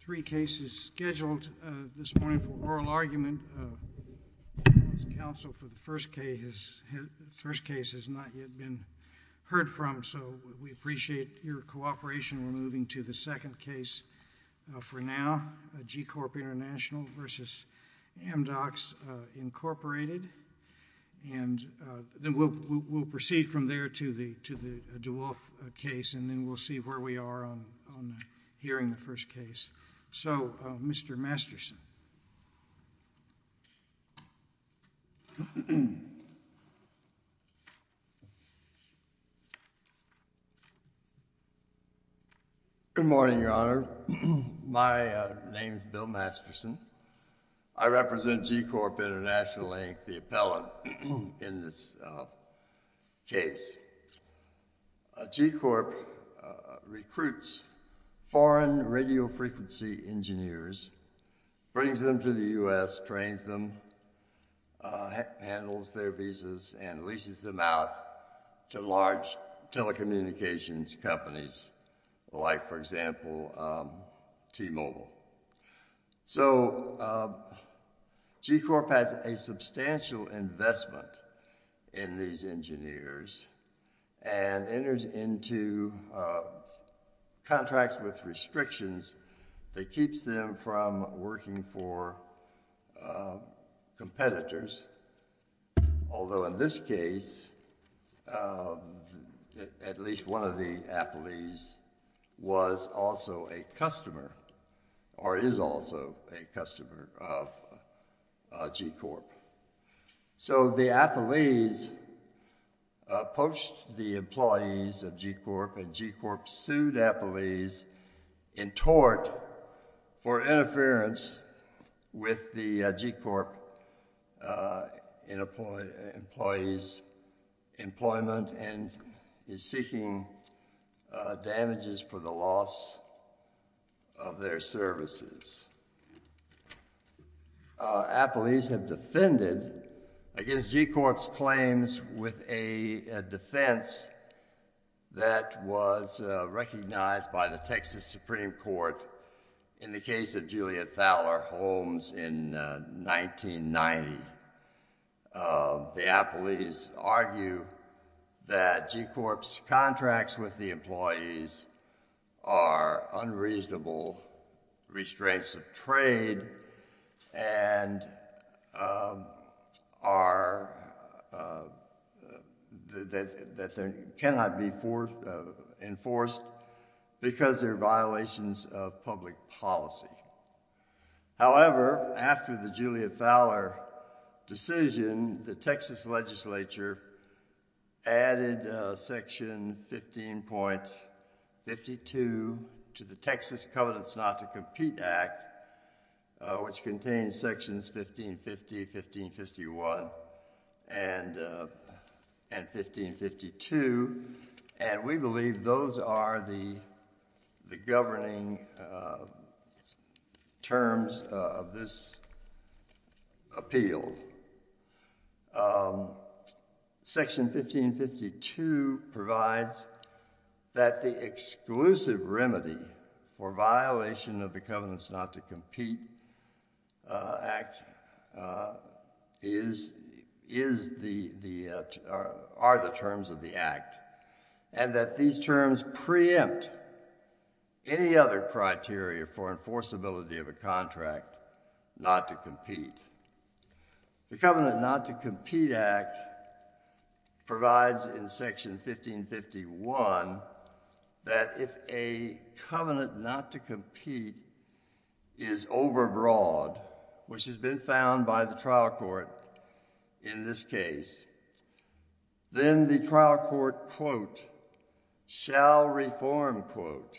Three cases scheduled this morning for oral argument. Council for the first case has not yet been heard from, so we appreciate your cooperation. We're moving to the second case for now, GCORP International v. AmDocs Incorporated, and then we'll proceed from there to the DeWolf case, and then we'll see where we are on hearing the first case. So, Mr. Masterson. Good morning, Your Honor. My name is Bill Masterson. I represent GCORP International, the appellant in this case. GCORP recruits foreign radio frequency engineers, brings them to the U.S., trains them, handles their visas, and leases them out to large telecommunications companies, like, for example, T-Mobile. So, GCORP has a substantial investment in these engineers and enters into contracts with restrictions that keeps them from working for competitors, although in this case, at least one of the appellees was also a customer, or is also a customer of GCORP. So, the appellees poached the employees of GCORP, and GCORP sued appellees in tort for interference with the GCORP employees' employment and is seeking damages for the loss of their services. Appellees have defended against GCORP's claims with a defense that was recognized by the Texas Supreme Court in the case of Juliet Fowler Holmes in 1990. The appellees argue that GCORP's contracts with the employees are unreasonable restraints of trade and that they cannot be enforced because they're violations of public policy. However, after the Juliet Fowler decision, the Texas legislature added section 15.52 to the Texas Covenants Not to Compete Act, which contains sections 1550, 1551, and 1552, and we believe those are the governing terms of this appeal. Section 15.52 provides that the exclusive remedy for violation of the Covenants Not to Compete Act are the terms of the act, and that these terms preempt any other criteria for enforceability of a contract not to compete. The Covenant Not to Compete Act provides in section 15.51 that if a covenant not to compete is overbroad, which has been found by the trial court in this case, then the trial court, quote, shall reform, quote,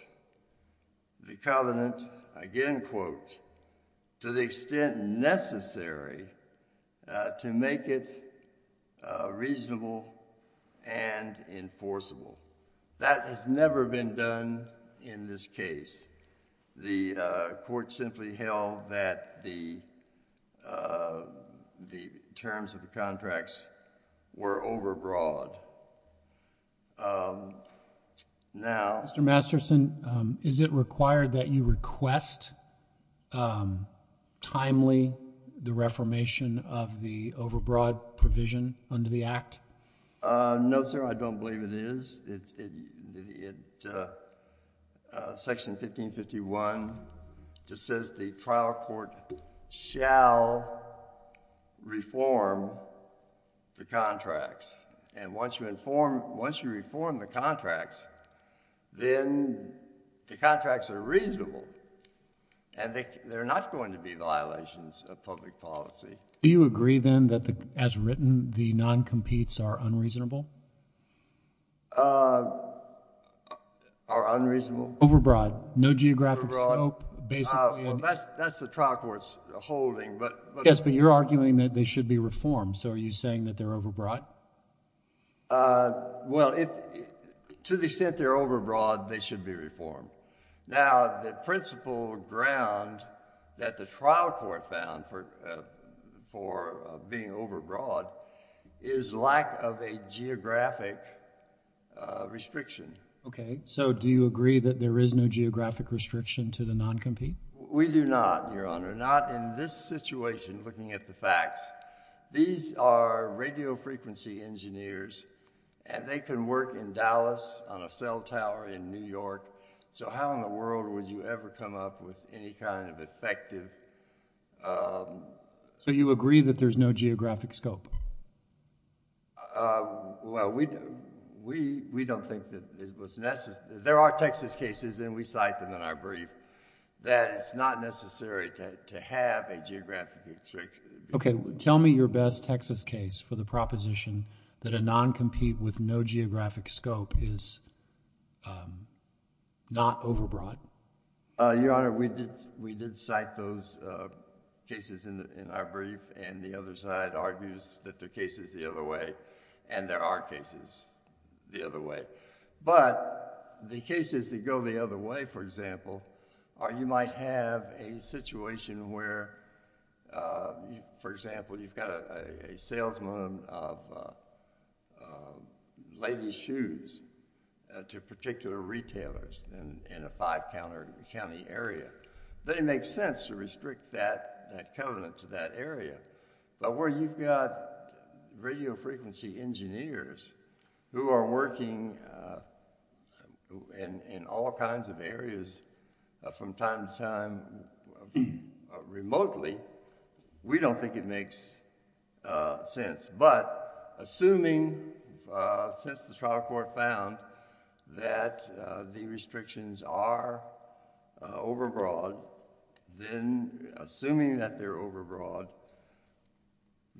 the covenant, again, quote, to the extent necessary to make it reasonable and enforceable. That has never been done in this case. The court simply held that the the terms of the contracts were overbroad. Now, Mr. Masterson, is it required that you request timely the reformation of the overbroad provision under the act? No, sir, I don't believe it is. It, uh, section 1551 just says the trial court shall reform the contracts, and once you inform, once you reform the contracts, then the contracts are reasonable, and they're not going to be violations of public policy. Do you agree, then, that the, as written, the non-competes are unreasonable? Uh, are unreasonable? Overbroad, no geographic slope, basically. Uh, well, that's, that's the trial court's holding, but. Yes, but you're arguing that they should be reformed, so are you saying that they're overbroad? Uh, well, if, to the extent they're overbroad, they should be reformed. Now, the principal ground that the trial court found for, uh, for, uh, being overbroad is lack of a geographic, uh, restriction. Okay, so do you agree that there is no geographic restriction to the non-compete? We do not, Your Honor, not in this situation, looking at the facts. These are radio frequency engineers, and they can work in Dallas on a cell tower in New York, so how in the world would you ever come up with any kind of effective, um... So you agree that there's no geographic scope? Uh, well, we, we, we don't think that it was necessary. There are Texas cases, and we cite them in our brief, that it's not necessary to, to have a geographic restriction. Okay, tell me your best Texas case for the proposition that a non-compete with no geographic scope is, um, not overbroad? Uh, Your Honor, we did, we did cite those, uh, cases in the, in our brief, and the other side argues that the case is the other way, and there are cases the other way. But, the cases that go the other way, for example, are, you might have a situation where, uh, you, for example, you've got a, a salesman of, uh, uh, ladies' shoes to particular retailers in, in a five-counter county area. Then it makes sense to restrict that, that covenant to that area, but where you've got radio frequency engineers who are working, uh, in, in all kinds of areas from time to time remotely, we don't think it makes, uh, sense. But, assuming, uh, since the trial court found that, uh, the restrictions are, uh, overbroad, then, assuming that they're overbroad,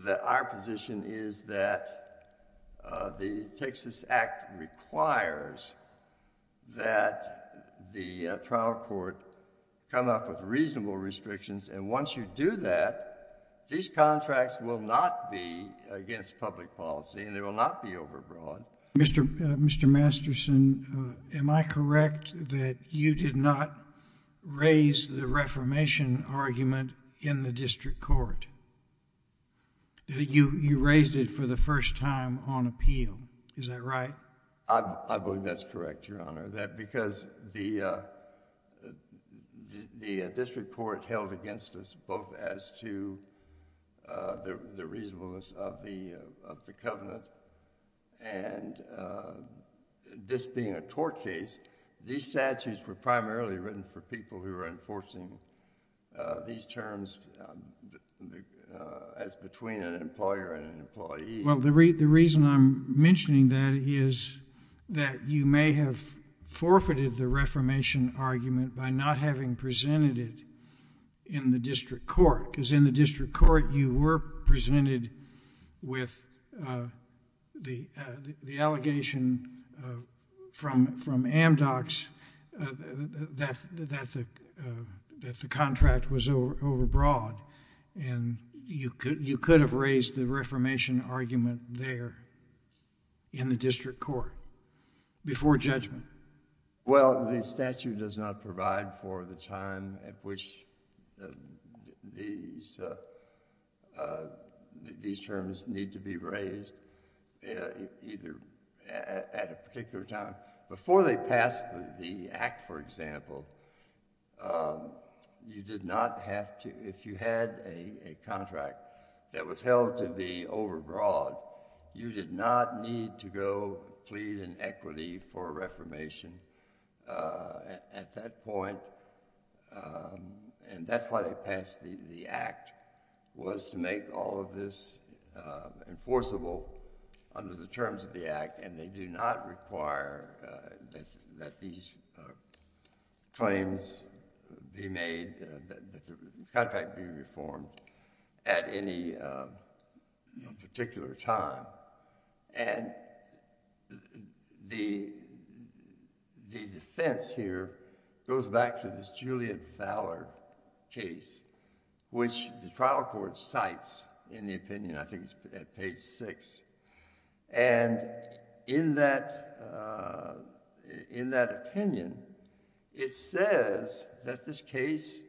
that our position is that, uh, the Texas Act requires that the, uh, trial court come up with reasonable restrictions, and once you do that, these contracts will not be against public policy, and they will not be overbroad. Mr., uh, Mr. Masterson, uh, am I correct that you did not raise the reformation argument in the district court? You, you raised it for the first time on appeal. Is that right? I, I believe that's correct, Your Honor, that because the, uh, the, the, uh, district court held against us both as to, uh, the, the reasonableness of the, uh, of the covenant, and, uh, this being a tort case, these statutes were primarily written for people who were enforcing, uh, these terms, um, uh, as between an employer and an employee. Well, the re, the reason I'm mentioning that is that you may have forfeited the reformation argument by not having presented it in the district court, because in the district court, you were presented with, uh, the, uh, the allegation, uh, from, from Amdocs, uh, that, that the, uh, that the contract was over, overbroad, and you could, you could have raised the reformation argument there in the district court before judgment. Well, the statute does not provide for the time at which the, these, uh, uh, these terms need to be raised, uh, either at, at a particular time. Before they passed the Act, for example, um, you did not have to, if you had a, a contract that was held to be overbroad, you did not need to go plead in equity for a reformation, uh, at, at that point. Um, and that's why they passed the, the Act, was to make all of this, uh, enforceable under the terms of the Act, and they do not require, uh, that, that these, uh, claims be made, uh, that the contract be reformed at any, uh, you know, particular time. And the, the defense here goes back to this Julian Fowler case, which the trial court cites in the opinion, I think it's at page six, and in that, uh, in that opinion, it says that this case,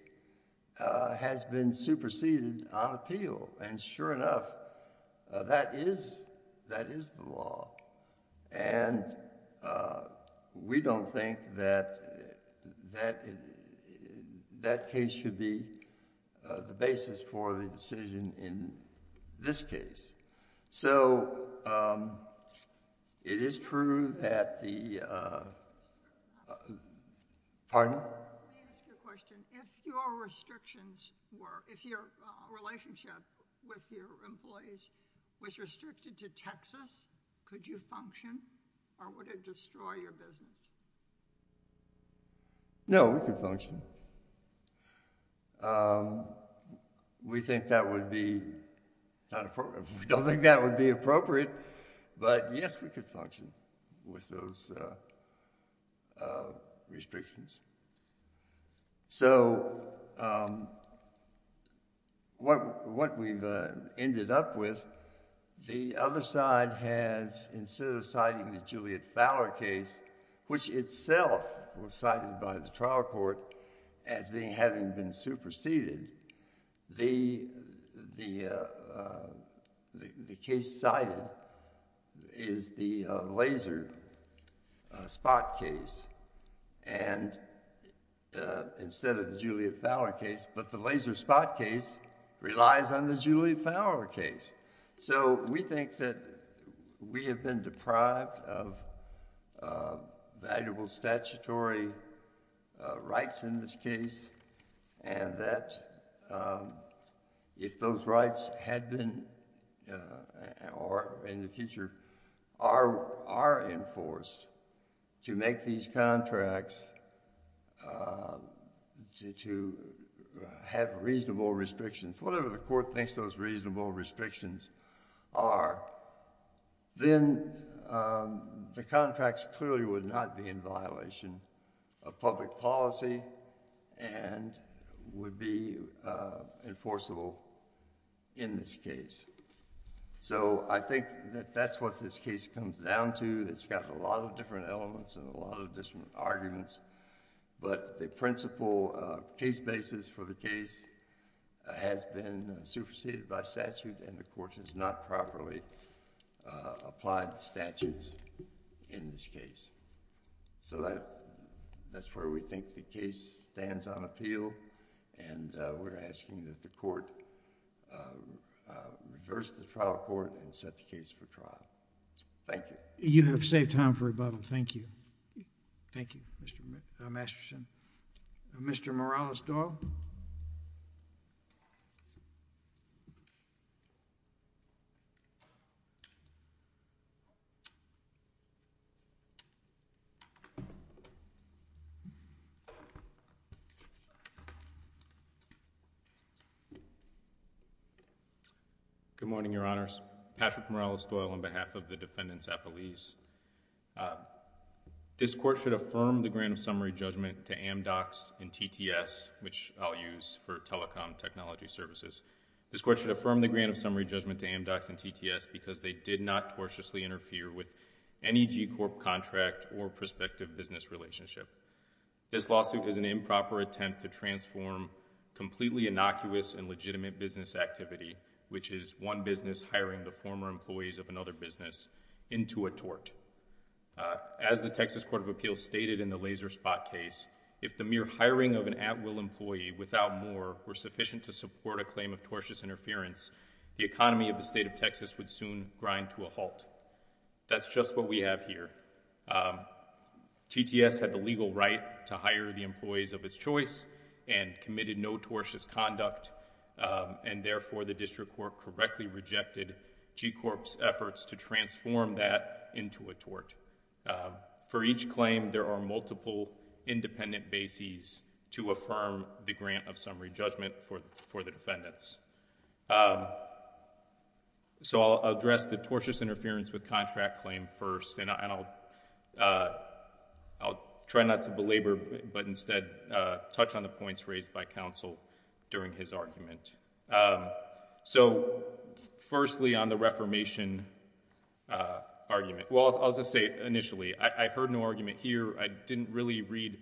uh, has been superseded on appeal, and sure enough, that is, that is the law, and, uh, we don't think that, that, that case should be, uh, the basis for the decision in this case. So, um, it is true that the, uh... Pardon? Let me ask you a question. If your restrictions were, if your, uh, relationship with your employees was restricted to Texas, could you function, or would it destroy your business? No, we could function. Um, we think that would be not appropriate. We don't think that would be appropriate, but yes, we could function with those, uh, uh, restrictions. So, um, what, what we've, uh, ended up with, the other side has, instead of citing the Julian Fowler case, which itself was cited by the trial court as being, having been superseded, the, the, uh, uh, the, the case cited is the, uh, Laser, uh, Spot case, and, uh, instead of the Julian Fowler case, but the Laser Spot case relies on the Julian Fowler case. So, we think that we have been deprived of, uh, valuable statutory, uh, rights in this case, and that, um, if those rights had been, uh, or in the future are, are enforced to make these contracts, uh, to, to, uh, have reasonable restrictions, whatever the court thinks those reasonable restrictions are, then, um, the contracts clearly would not be in violation of public policy and would be, uh, enforceable in this case. So, I think that that's what this case comes down to. It's got a lot of different elements and a lot of different arguments, but the principal, uh, case basis for the case has been superseded by statute and the court has not properly, uh, that's where we think the case stands on appeal, and, uh, we're asking that the court, uh, uh, reverse the trial court and set the case for trial. Thank you. You have saved time for rebuttal. Thank you. Thank you, Mr. Masterson. Mr. Morales-Doyle. Good morning, Your Honors. Patrick Morales-Doyle on behalf of the defendants' appellees. This court should affirm the grant of summary judgment to Amdocs and TTS, which I'll use for telecom technology services. This court should affirm the grant of summary judgment to Amdocs and TTS because they did not tortiously interfere with any G Corp contract or prospective business relationship. This lawsuit is an improper attempt to transform completely innocuous and legitimate business activity, which is one business hiring the former employees of another business into a tort. As the Texas Court of Appeals stated in the Laser Spot case, if the mere hiring of an at-will employee without more were sufficient to support a claim of tortious interference, the economy of the state of Texas would soon grind to a halt. That's just what we have here. TTS had the legal right to hire the employees of its choice and committed no tortious conduct, and therefore, the district court correctly rejected G Corp's efforts to transform that into a tort. For each claim, there are multiple independent bases to affirm the grant of summary judgment for the defendants. Um, so I'll address the tortious interference with contract claim first, and I'll, uh, I'll try not to belabor, but instead, uh, touch on the points raised by counsel during his argument. Um, so firstly, on the reformation, uh, argument, well, I'll just say, initially, I heard no argument here. I didn't really read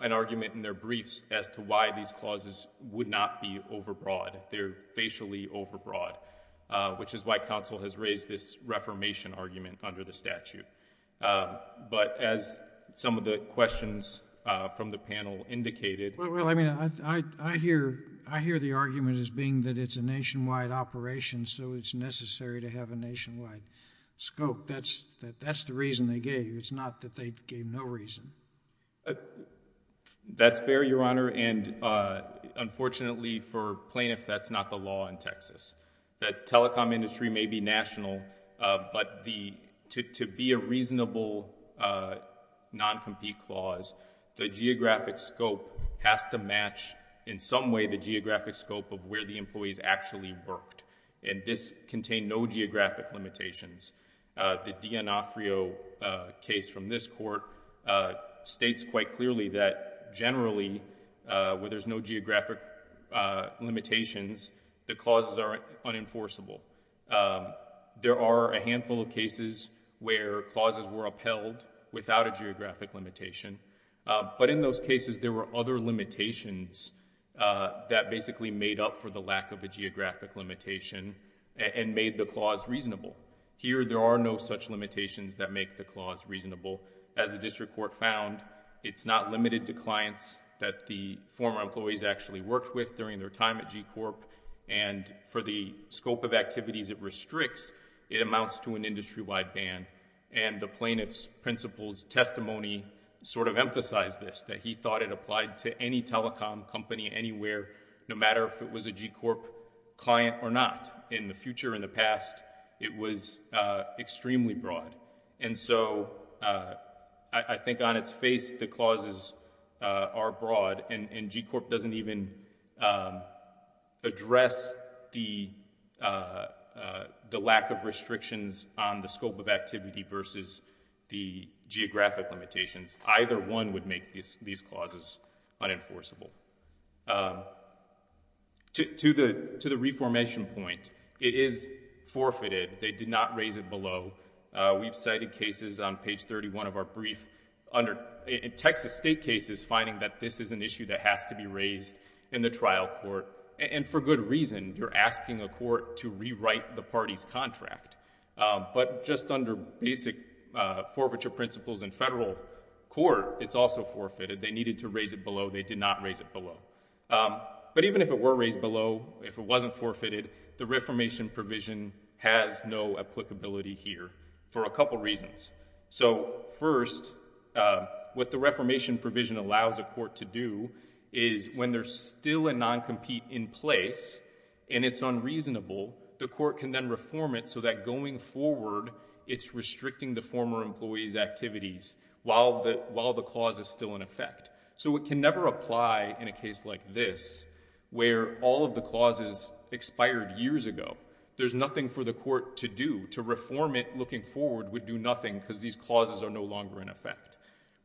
an argument in their briefs as to why these clauses would not be overbroad. They're facially overbroad, uh, which is why counsel has raised this reformation argument under the statute. Uh, but as some of the questions, uh, from the panel indicated... Well, I mean, I, I, I hear, I hear the argument as being that it's a nationwide operation, so it's necessary to have a nationwide scope. That's, that, that's the reason they gave. It's not that they gave no reason. Uh, that's fair, Your Honor, and, uh, unfortunately for plaintiffs, that's not the law in Texas. The telecom industry may be national, uh, but the, to, to be a reasonable, uh, non-compete clause, the geographic scope has to match in some way the geographic scope of where the employees actually worked, and this contained no geographic limitations. Uh, the D'Onofrio, uh, case from this court, uh, states quite clearly that generally, uh, where there's no geographic, uh, limitations, the clauses are unenforceable. Um, there are a handful of cases where clauses were upheld without a geographic limitation, uh, but in those cases, there were other limitations, uh, that basically made up for the lack of a geographic limitation and made the clause reasonable. Here, there are no such limitations that make the clause reasonable. As the district court found, it's not limited to clients that the former employees actually worked with during their time at G Corp, and for the scope of activities it restricts, it amounts to an industry-wide ban, and the plaintiff's principle's testimony sort of emphasized this, that he thought it applied to any telecom company anywhere, no matter if it was a G in the future, in the past, it was, uh, extremely broad. And so, uh, I think on its face, the clauses, uh, are broad, and, and G Corp doesn't even, um, address the, uh, uh, the lack of restrictions on the scope of activity versus the geographic limitations. Either one would make these, these clauses unenforceable. Um, to, to the, to the reformation point, it is forfeited. They did not raise it below. Uh, we've cited cases on page 31 of our brief under, in Texas state cases, finding that this is an issue that has to be raised in the trial court, and for good reason, you're asking a court to rewrite the party's contract. Um, but just under basic, uh, forfeiture principles in federal court, it's also forfeited. They needed to raise it below. They did not raise it below. Um, but even if it were raised below, if it wasn't forfeited, the reformation provision has no applicability here for a couple reasons. So first, uh, what the reformation provision allows a court to do is when there's still a non-compete in place, and it's unreasonable, the court can then reform it so that going forward, it's restricting the former employee's activities while the, while the clause is still in effect. So it can never apply in a case like this, where all of the clauses expired years ago. There's nothing for the court to do. To reform it looking forward would do nothing because these clauses are no longer in effect.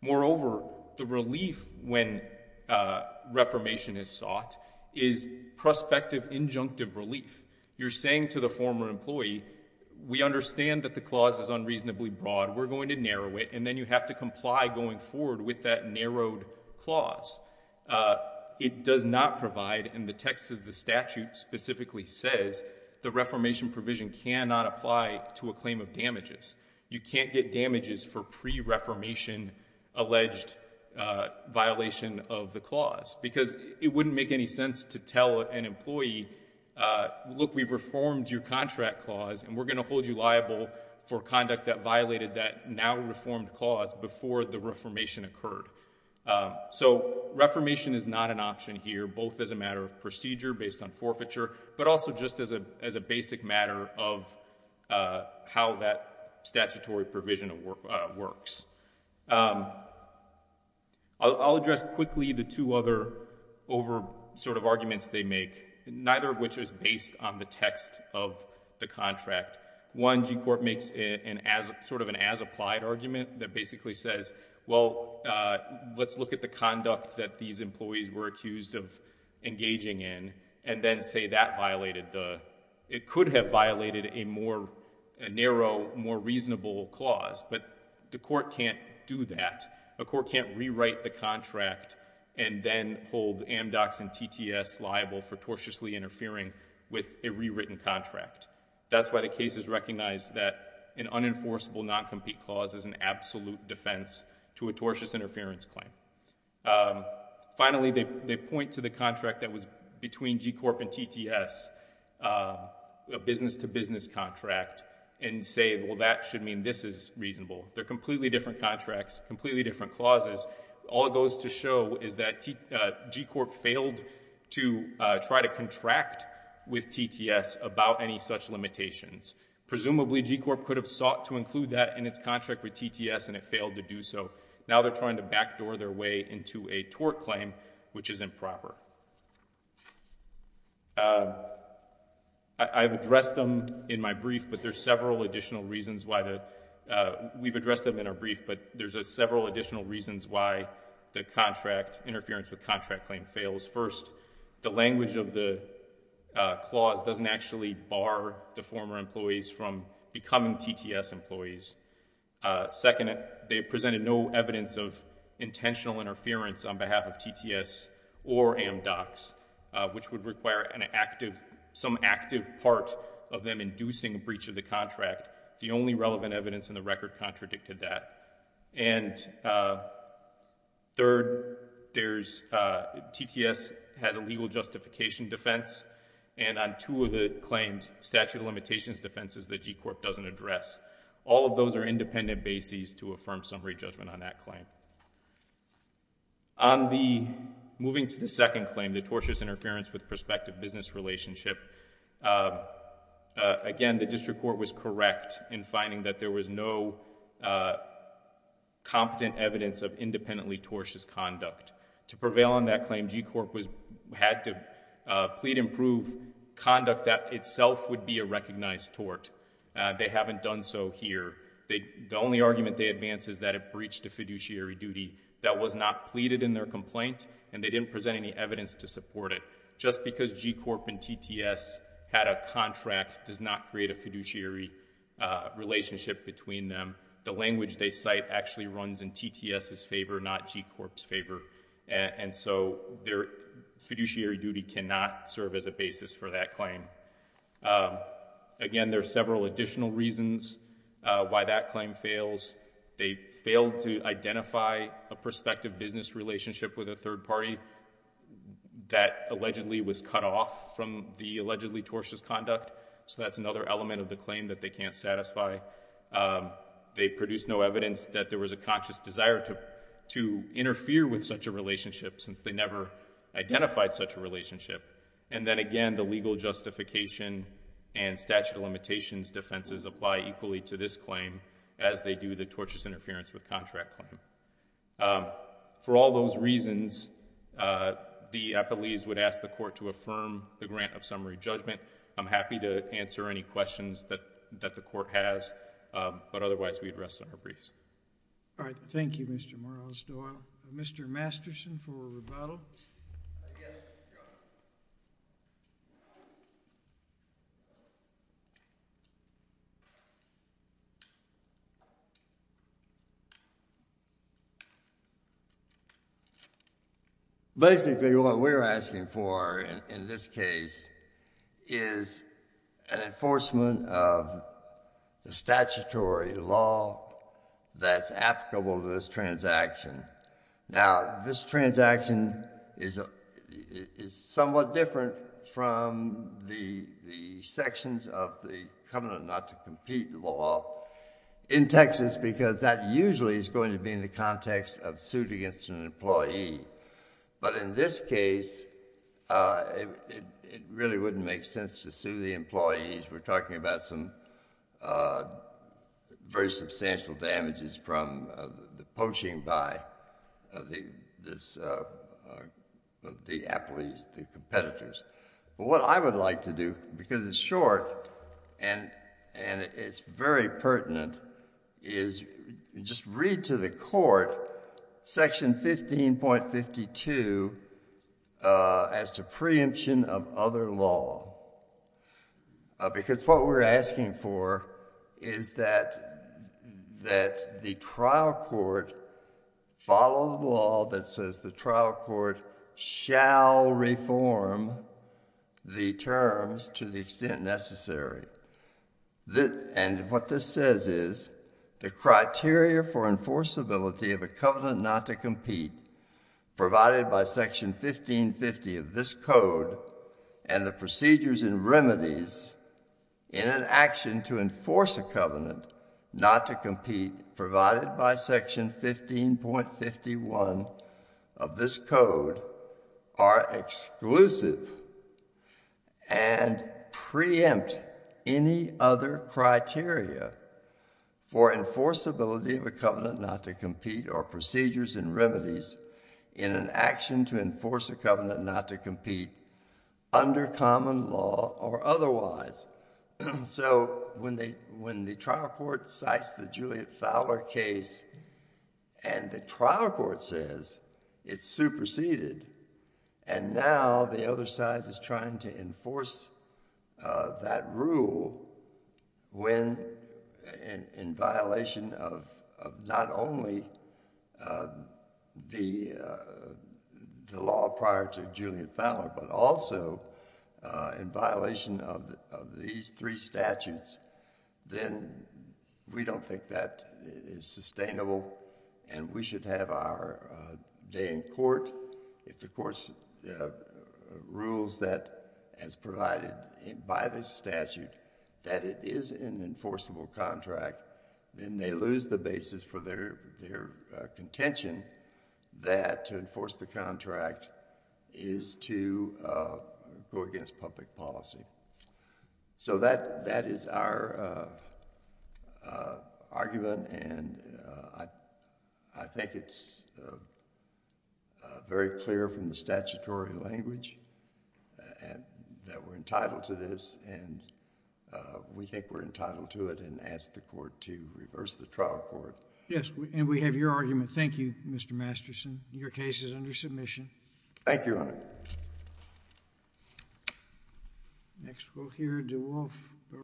Moreover, the relief when, uh, reformation is sought is prospective injunctive relief. You're saying to the former employee, we understand that the clause is unreasonably broad. We're going to narrow it, and then you have to comply going forward with that narrowed clause. Uh, it does not provide, and the text of the statute specifically says, the reformation provision cannot apply to a claim of damages. You can't get damages for pre-reformation alleged, uh, violation of the clause because it wouldn't make any sense to tell an employee, uh, look, we've reformed your contract clause, and we're going to hold you liable for conduct that violated that now reformed clause before the reformation occurred. Uh, so reformation is not an option here, both as a matter of procedure based on forfeiture, but also just as a, as a basic matter of, uh, how that statutory provision, uh, works. Um, I'll, I'll address quickly the two other over, sort of, arguments they make, neither of which is based on the text of the contract. One, G Court makes an as, sort of an as applied argument that basically says, well, uh, let's look at the conduct that these employees were accused of engaging in, and then say that violated the, it could have violated a more, a narrow, more reasonable clause, but the court can't do that. A court can't rewrite the contract and then hold Amdocs and TTS liable for tortiously interfering with a rewritten contract. That's why the case is recognized that an unenforceable non-compete clause is an absolute defense to a tortious interference claim. Um, finally, they, they point to the contract that was between G Corp and TTS, uh, a business to business contract and say, well, that should mean this is reasonable. They're completely different contracts, completely different clauses. All it goes to show is that T, uh, G Corp failed to, uh, try to contract with TTS about any such limitations. Presumably G Corp could have sought to include that in its contract with TTS and it failed to do so. Now they're trying to backdoor their way into a tort claim, which is improper. Um, I, I've addressed them in my brief, but there's several additional reasons why to, uh, we've addressed them in our brief, but there's a several additional reasons why the contract, interference with contract claim fails. First, the language of the, uh, clause doesn't actually bar the former employees from becoming TTS employees. Uh, second, they presented no evidence of intentional interference on behalf of TTS or Amdocs, uh, which would require an active, some active part of them inducing a breach of the contract. The only relevant evidence in the record contradicted that. And, uh, third, there's, uh, TTS has a legal justification defense and on two of the claims statute of limitations defenses that G Corp doesn't address. All of those are independent bases to affirm summary judgment on that claim. On the, moving to the second claim, the tortious interference with prospective business relationship, uh, uh, again, the district court was correct in finding that there was no, uh, competent evidence of independently tortious conduct. To prevail on that claim, G Corp was, had to, uh, plead and prove conduct that itself would be a recognized tort. Uh, they haven't done so here. They, the only argument they advance is that it breached a fiduciary duty that was not pleaded in their complaint and they didn't present any evidence to support it. Just because G Corp and TTS had a contract does not create a fiduciary, uh, relationship between them. The language they cite actually runs in TTS's favor, not G Corp's favor. And so their fiduciary duty cannot serve as a basis for that claim. Um, again, there are several additional reasons, uh, why that claim fails. They failed to identify a prospective business relationship with a third party that allegedly was cut off from the allegedly tortious conduct. So that's another element of the claim that they can't satisfy. Um, they produced no evidence that there was a conscious desire to, to interfere with such a relationship since they never identified such a relationship. And then again, the legal justification and statute of limitations defenses apply equally to this claim as they do the tortious interference with contract claim. Um, for all those reasons, uh, the appellees would ask the court to affirm the grant of summary judgment. I'm happy to answer any questions that, that the court has. Um, but otherwise we'd rest on our briefs. All right. Thank you, Mr. Morales-Doyle. Mr. Masterson for rebuttal. Yes, Your Honor. Basically, what we're asking for in this case is an enforcement of the statutory law that's applicable to this transaction. Now, this transaction is, uh, is somewhat different from the, the sections of the covenant not to compete the law in Texas, because that usually is going to be in the context of suit against an employee. But in this case, uh, it, it really wouldn't make sense to sue the employees. We're talking about some, uh, very substantial damages from, uh, the poaching by, uh, the, this, uh, uh, the appellees, the competitors. But what I would like to do, because it's short and, and it's very pertinent, is just read to the court section 15.52, uh, as to preemption of other law. Uh, because what we're asking for is that, that the trial court follow the law that says the trial court shall reform the terms to the extent necessary. The, and what this says is the criteria for enforceability of a covenant not to compete provided by section 15.50 of this code and the procedures and remedies in an action to enforce a covenant not to compete provided by section 15.51 of this code are exclusive and preempt any other criteria for enforceability of a covenant not to compete or procedures and remedies in an action to enforce a covenant not to compete under common law or otherwise. So when they, when the trial court cites the Juliet Fowler case and the trial court says it's superseded and now the other side is trying to enforce, uh, that rule when in, in violation of, of not only, uh, the, uh, the law prior to Juliet Fowler, but also, uh, in violation of, of these three statutes, then we don't think that it is sustainable and we should have our, uh, day in court. If the courts, uh, rules that as provided by this statute, that it is an enforceable contract, then they lose the basis for their, their, uh, contention that to enforce the contract is to, uh, go against public policy. So that, that is our, uh, uh, argument and, uh, I, I think it's, uh, uh, very clear from the statutory language, uh, and that we're entitled to this and, uh, we think we're entitled to it and ask the court to reverse the trial court. Yes. And we have your argument. Thank you, Mr. Masterson. Your case is under submission. Thank you, Your Honor. Next quote here, DeWolf.